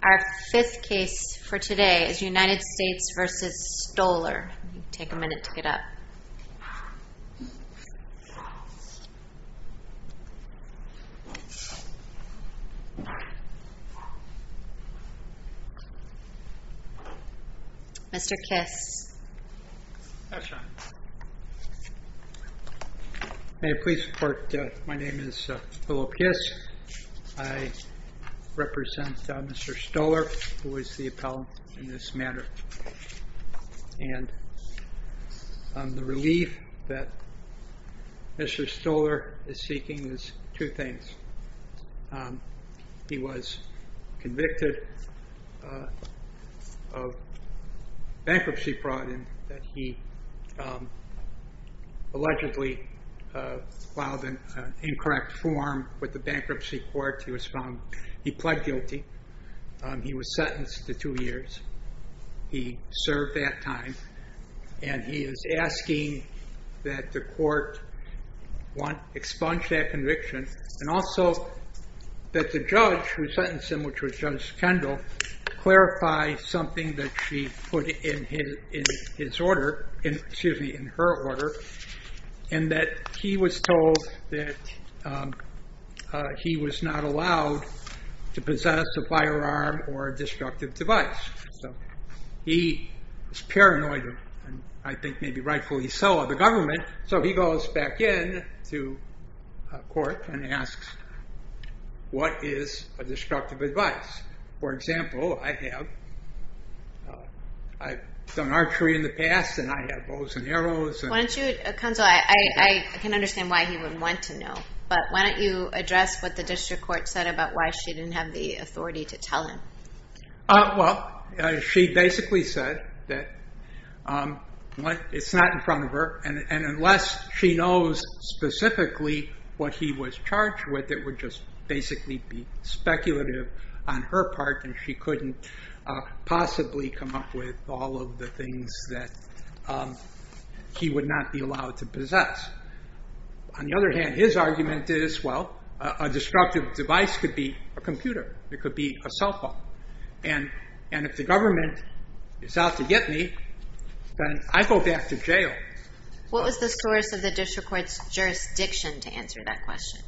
Our fifth case for today is United States v. Stoller, take a minute to get up. Mr. Kiss I represent Mr. Stoller who is the appellant in this matter and the relief that Mr. Stoller is seeking is two things. He was convicted of bankruptcy fraud in that he allegedly filed an incorrect form with the bankruptcy court. He was found, he pled guilty. He was sentenced to two years. He served that time and he is asking that the court expunge that conviction and also that the judge who sentenced him, which was Judge Kendall, clarify something that she put in his order, excuse me, in her order, and that he was told that he was not allowed to possess a firearm or a destructive device. So he is paranoid and I think maybe rightfully so of the government, so he goes back in to court and asks, what is a destructive device? For example, I have done archery in the past and I have bows and arrows and- Why don't you, I can understand why he wouldn't want to know, but why don't you address what the district court said about why she didn't have the authority to tell him? Well, she basically said that it's not in front of her and unless she knows specifically what he was charged with, it would just basically be speculative on her part and she couldn't possibly come up with all of the things that he would not be allowed to possess. On the other hand, a destructive device could be a computer, it could be a cell phone and if the government is out to get me, then I go back to jail. What was the source of the district court's jurisdiction to answer that question?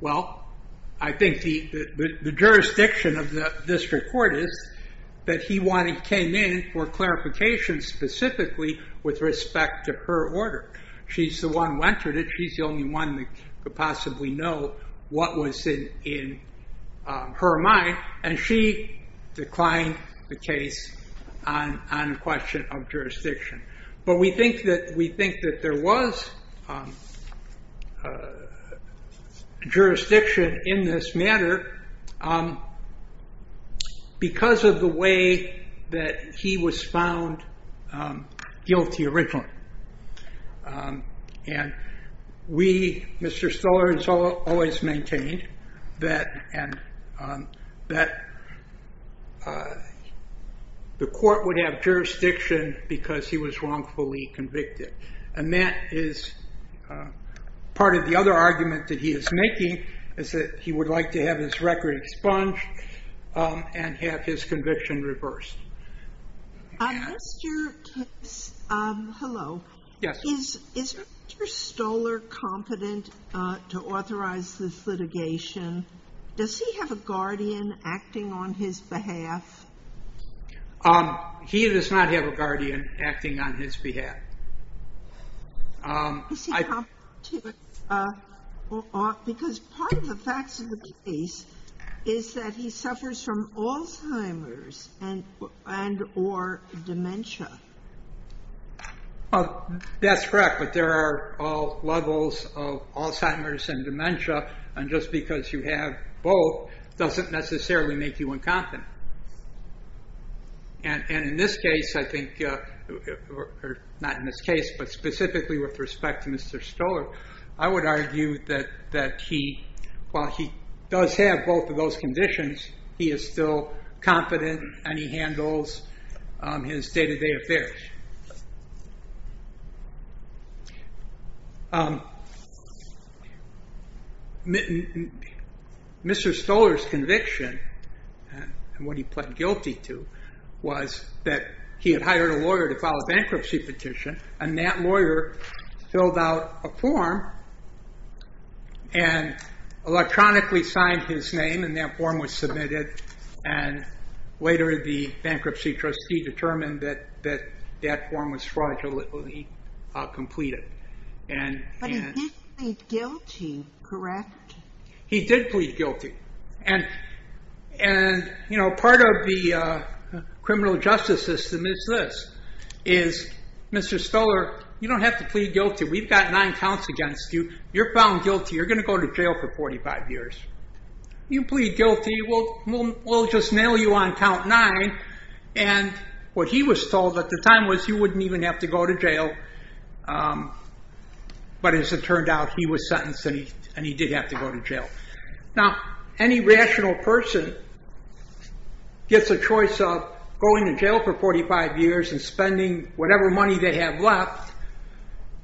Well, I think the jurisdiction of the district court is that he came in for clarification specifically with respect to her order. She's the one who entered it, she's the only one that could possibly know what was in her mind and she declined the case on the question of jurisdiction. But we think that there was jurisdiction in this matter because of the way that he was found guilty originally. And we, Mr. Stoller, has always maintained that the court would have jurisdiction because he was wrongfully convicted. And that is part of the other argument that he is making, is that he would like to have his record expunged and have his conviction reversed. Hello, is Mr. Stoller competent to authorize this litigation? Does he have a guardian acting on his behalf? He does not have a guardian acting on his behalf. Is he competent? Because part of the facts of the case is that he suffers from Alzheimer's and or dementia. That's correct, but there are levels of Alzheimer's and dementia, and just because you have both doesn't necessarily make you incompetent. And in this case, I think, not in this case, but specifically with respect to Mr. Stoller, I would argue that while he does have both of those conditions, he is still competent and he handles his day-to-day affairs. Mr. Stoller's conviction, and what he pled guilty to, was that he had hired a lawyer to file a bankruptcy petition, and that lawyer filled out a form and electronically signed his name, and that form was submitted, and later the bankruptcy trustee determined that that form was fraudulently completed. But he did plead guilty, correct? He did plead guilty, and part of the criminal justice system is this. Mr. Stoller, you don't have to plead guilty. We've got nine counts against you. You're found guilty. You're going to go to jail for 45 years. You plead guilty, we'll just nail you on count nine, and what he was told at the time was he wouldn't even have to go to jail, but as it turned out, he was sentenced and he did have to go to jail. Now, any rational person gets a choice of going to jail for 45 years and spending whatever money they have left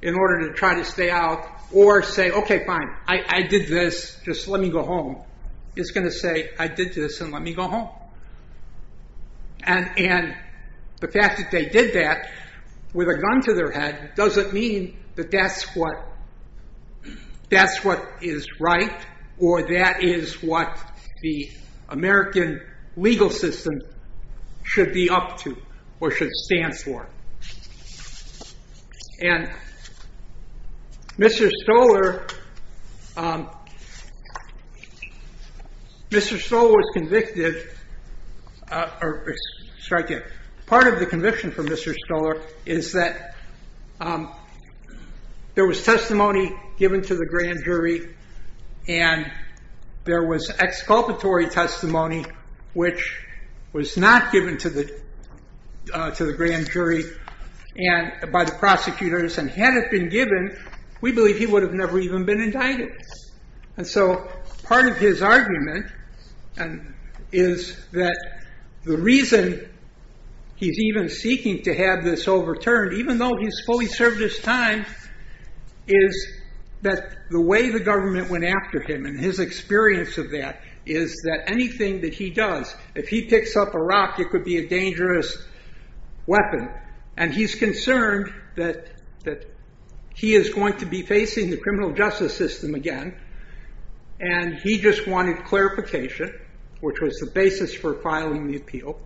in order to try to stay out, or say, okay, fine, I did this, just let me go home, is going to say, I did this and let me go home. And the fact that they did that with a gun to their head doesn't mean that that's what is right or that is what the American legal system should be up to or should stand for. And Mr. Stoller, Mr. Stoller was convicted, sorry, part of the conviction for Mr. Stoller is that there was testimony given to the grand jury and there was exculpatory testimony, which was not given to the grand jury by the prosecutors. And had it been given, we believe he would have never even been indicted. And so part of his argument is that the reason he's even seeking to have this overturned, even though he's fully served his time, is that the way the government went after him and his experience of that is that anything that he does, if he picks up a rock, it could be a dangerous weapon. And he's concerned that he is going to be facing the criminal justice system again. And he just wanted clarification, which was the basis for filing the appeal.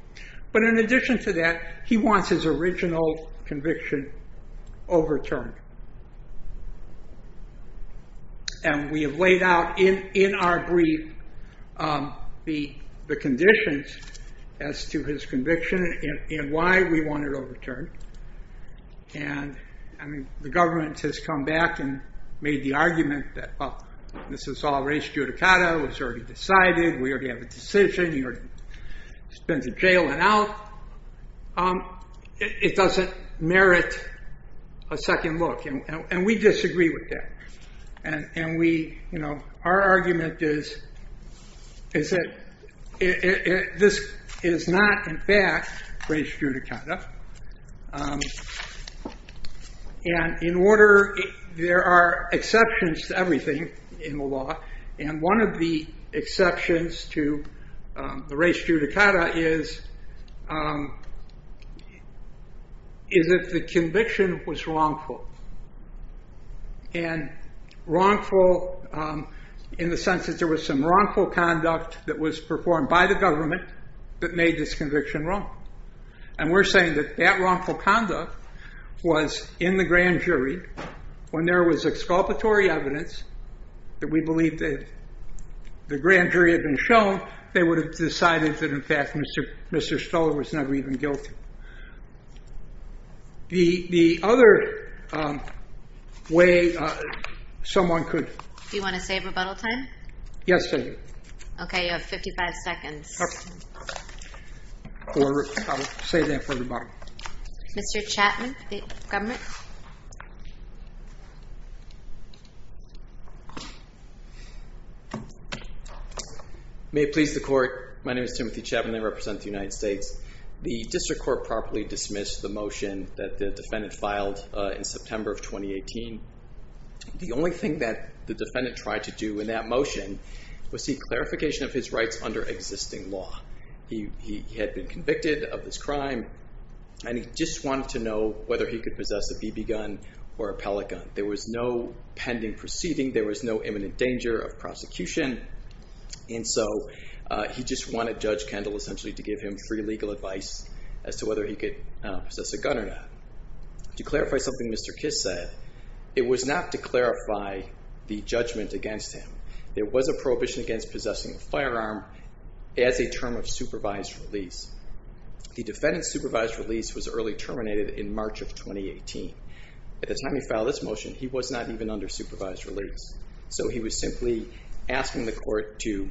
But in addition to that, he wants his original conviction overturned. And we have laid out in our brief the conditions as to his conviction and why we want it overturned. And the government has come back and made the argument that this is all race judicata, it was already decided, we already have a decision, he spends a jail and out. It doesn't merit a second look. And we disagree with that. And our argument is that this is not, in fact, race judicata. And in order, there are exceptions to everything in the law. And one of the exceptions to the race judicata is if the conviction was wrongful. And wrongful in the sense that there was some wrongful conduct that was performed by the government that made this conviction wrong. And we're saying that that wrongful conduct was in the grand jury when there was exculpatory evidence that we believe that the grand jury had been shown, they would have decided that, in fact, Mr. Stoler was never even guilty. The other way someone could... Do you want to save rebuttal time? Yes, I do. Okay, you have 55 seconds. Okay. I'll save that for the bottom. Mr. Chapman, the government? May it please the court. My name is Timothy Chapman. I represent the United States. The district court properly dismissed the motion that the defendant filed in September of 2018. The only thing that the defendant tried to do in that motion was seek clarification of his rights under existing law. He had been convicted of this crime, and he just wanted to know whether he could possess a BB gun or a pellet gun. There was no pending proceeding. There was no imminent danger of prosecution. And so he just wanted Judge Kendall essentially to give him free legal advice as to whether he could possess a gun or not. To clarify something Mr. Kiss said, it was not to clarify the judgment against him. There was a prohibition against possessing a firearm as a term of supervised release. The defendant's supervised release was early terminated in March of 2018. At the time he filed this motion, he was not even under supervised release. So he was simply asking the court to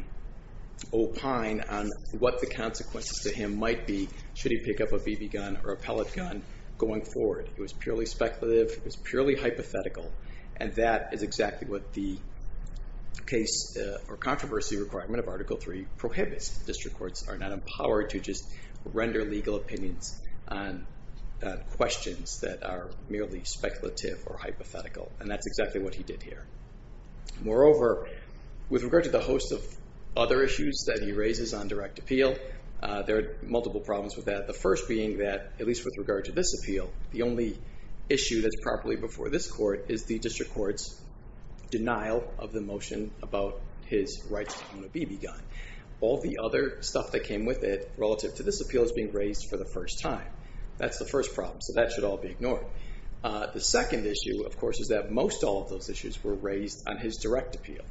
opine on what the consequences to him might be should he pick up a BB gun or a pellet gun going forward. It was purely speculative. It was purely hypothetical. And that is exactly what the case or controversy requirement of Article III prohibits. District courts are not empowered to just render legal opinions on questions that are merely speculative or hypothetical. And that's exactly what he did here. Moreover, with regard to the host of other issues that he raises on direct appeal, there are multiple problems with that. The first being that, at least with regard to this appeal, the only issue that's properly before this court is the district court's denial of the motion about his right to own a BB gun. All the other stuff that came with it relative to this appeal is being raised for the first time. That's the first problem. So that should all be ignored. The second issue, of course, is that most all of those issues were raised on his direct appeal.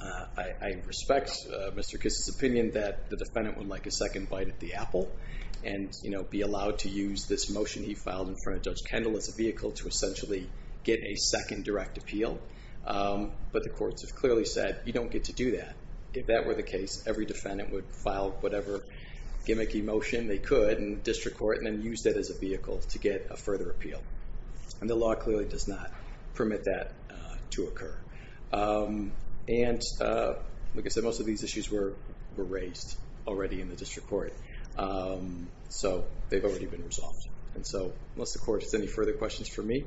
I respect Mr. Kiss's opinion that the defendant would like a second bite at the apple and be allowed to use this motion he filed in front of Judge Kendall as a vehicle to essentially get a second direct appeal. But the courts have clearly said, you don't get to do that. If that were the case, every defendant would file whatever gimmicky motion they could in the district court and then use that as a vehicle to get a further appeal. And the law clearly does not permit that to occur. And like I said, most of these issues were raised already in the district court. So they've already been resolved. And so, unless the court has any further questions for me,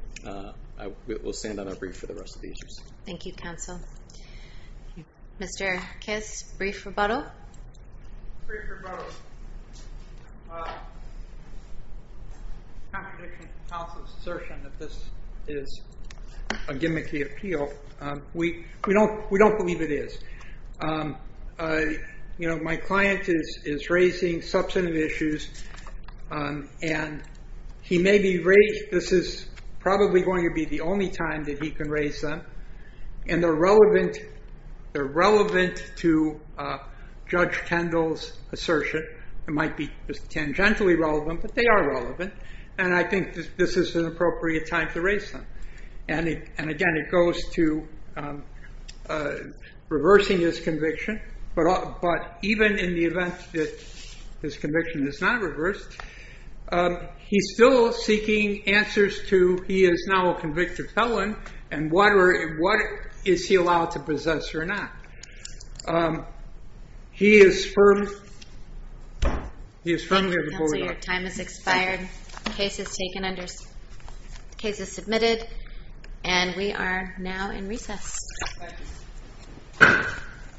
we'll stand on our brief for the rest of the issues. Thank you, counsel. Mr. Kiss, brief rebuttal? Brief rebuttal. Contradiction of counsel's assertion that this is a gimmicky appeal. We don't believe it is. You know, my client is raising substantive issues. And he may be raised, this is probably going to be the only time that he can raise them. And they're relevant to Judge Kendall's assertion. It might be tangentially relevant, but they are relevant. And I think this is an appropriate time to raise them. And again, it goes to reversing his conviction. But even in the event that his conviction is not reversed, he's still seeking answers to he is now a convicted felon. And what is he allowed to possess or not? He is firm. Thank you, counsel. Your time has expired. The case is submitted. And we are now in recess. Thank you. Thank you. Thank you.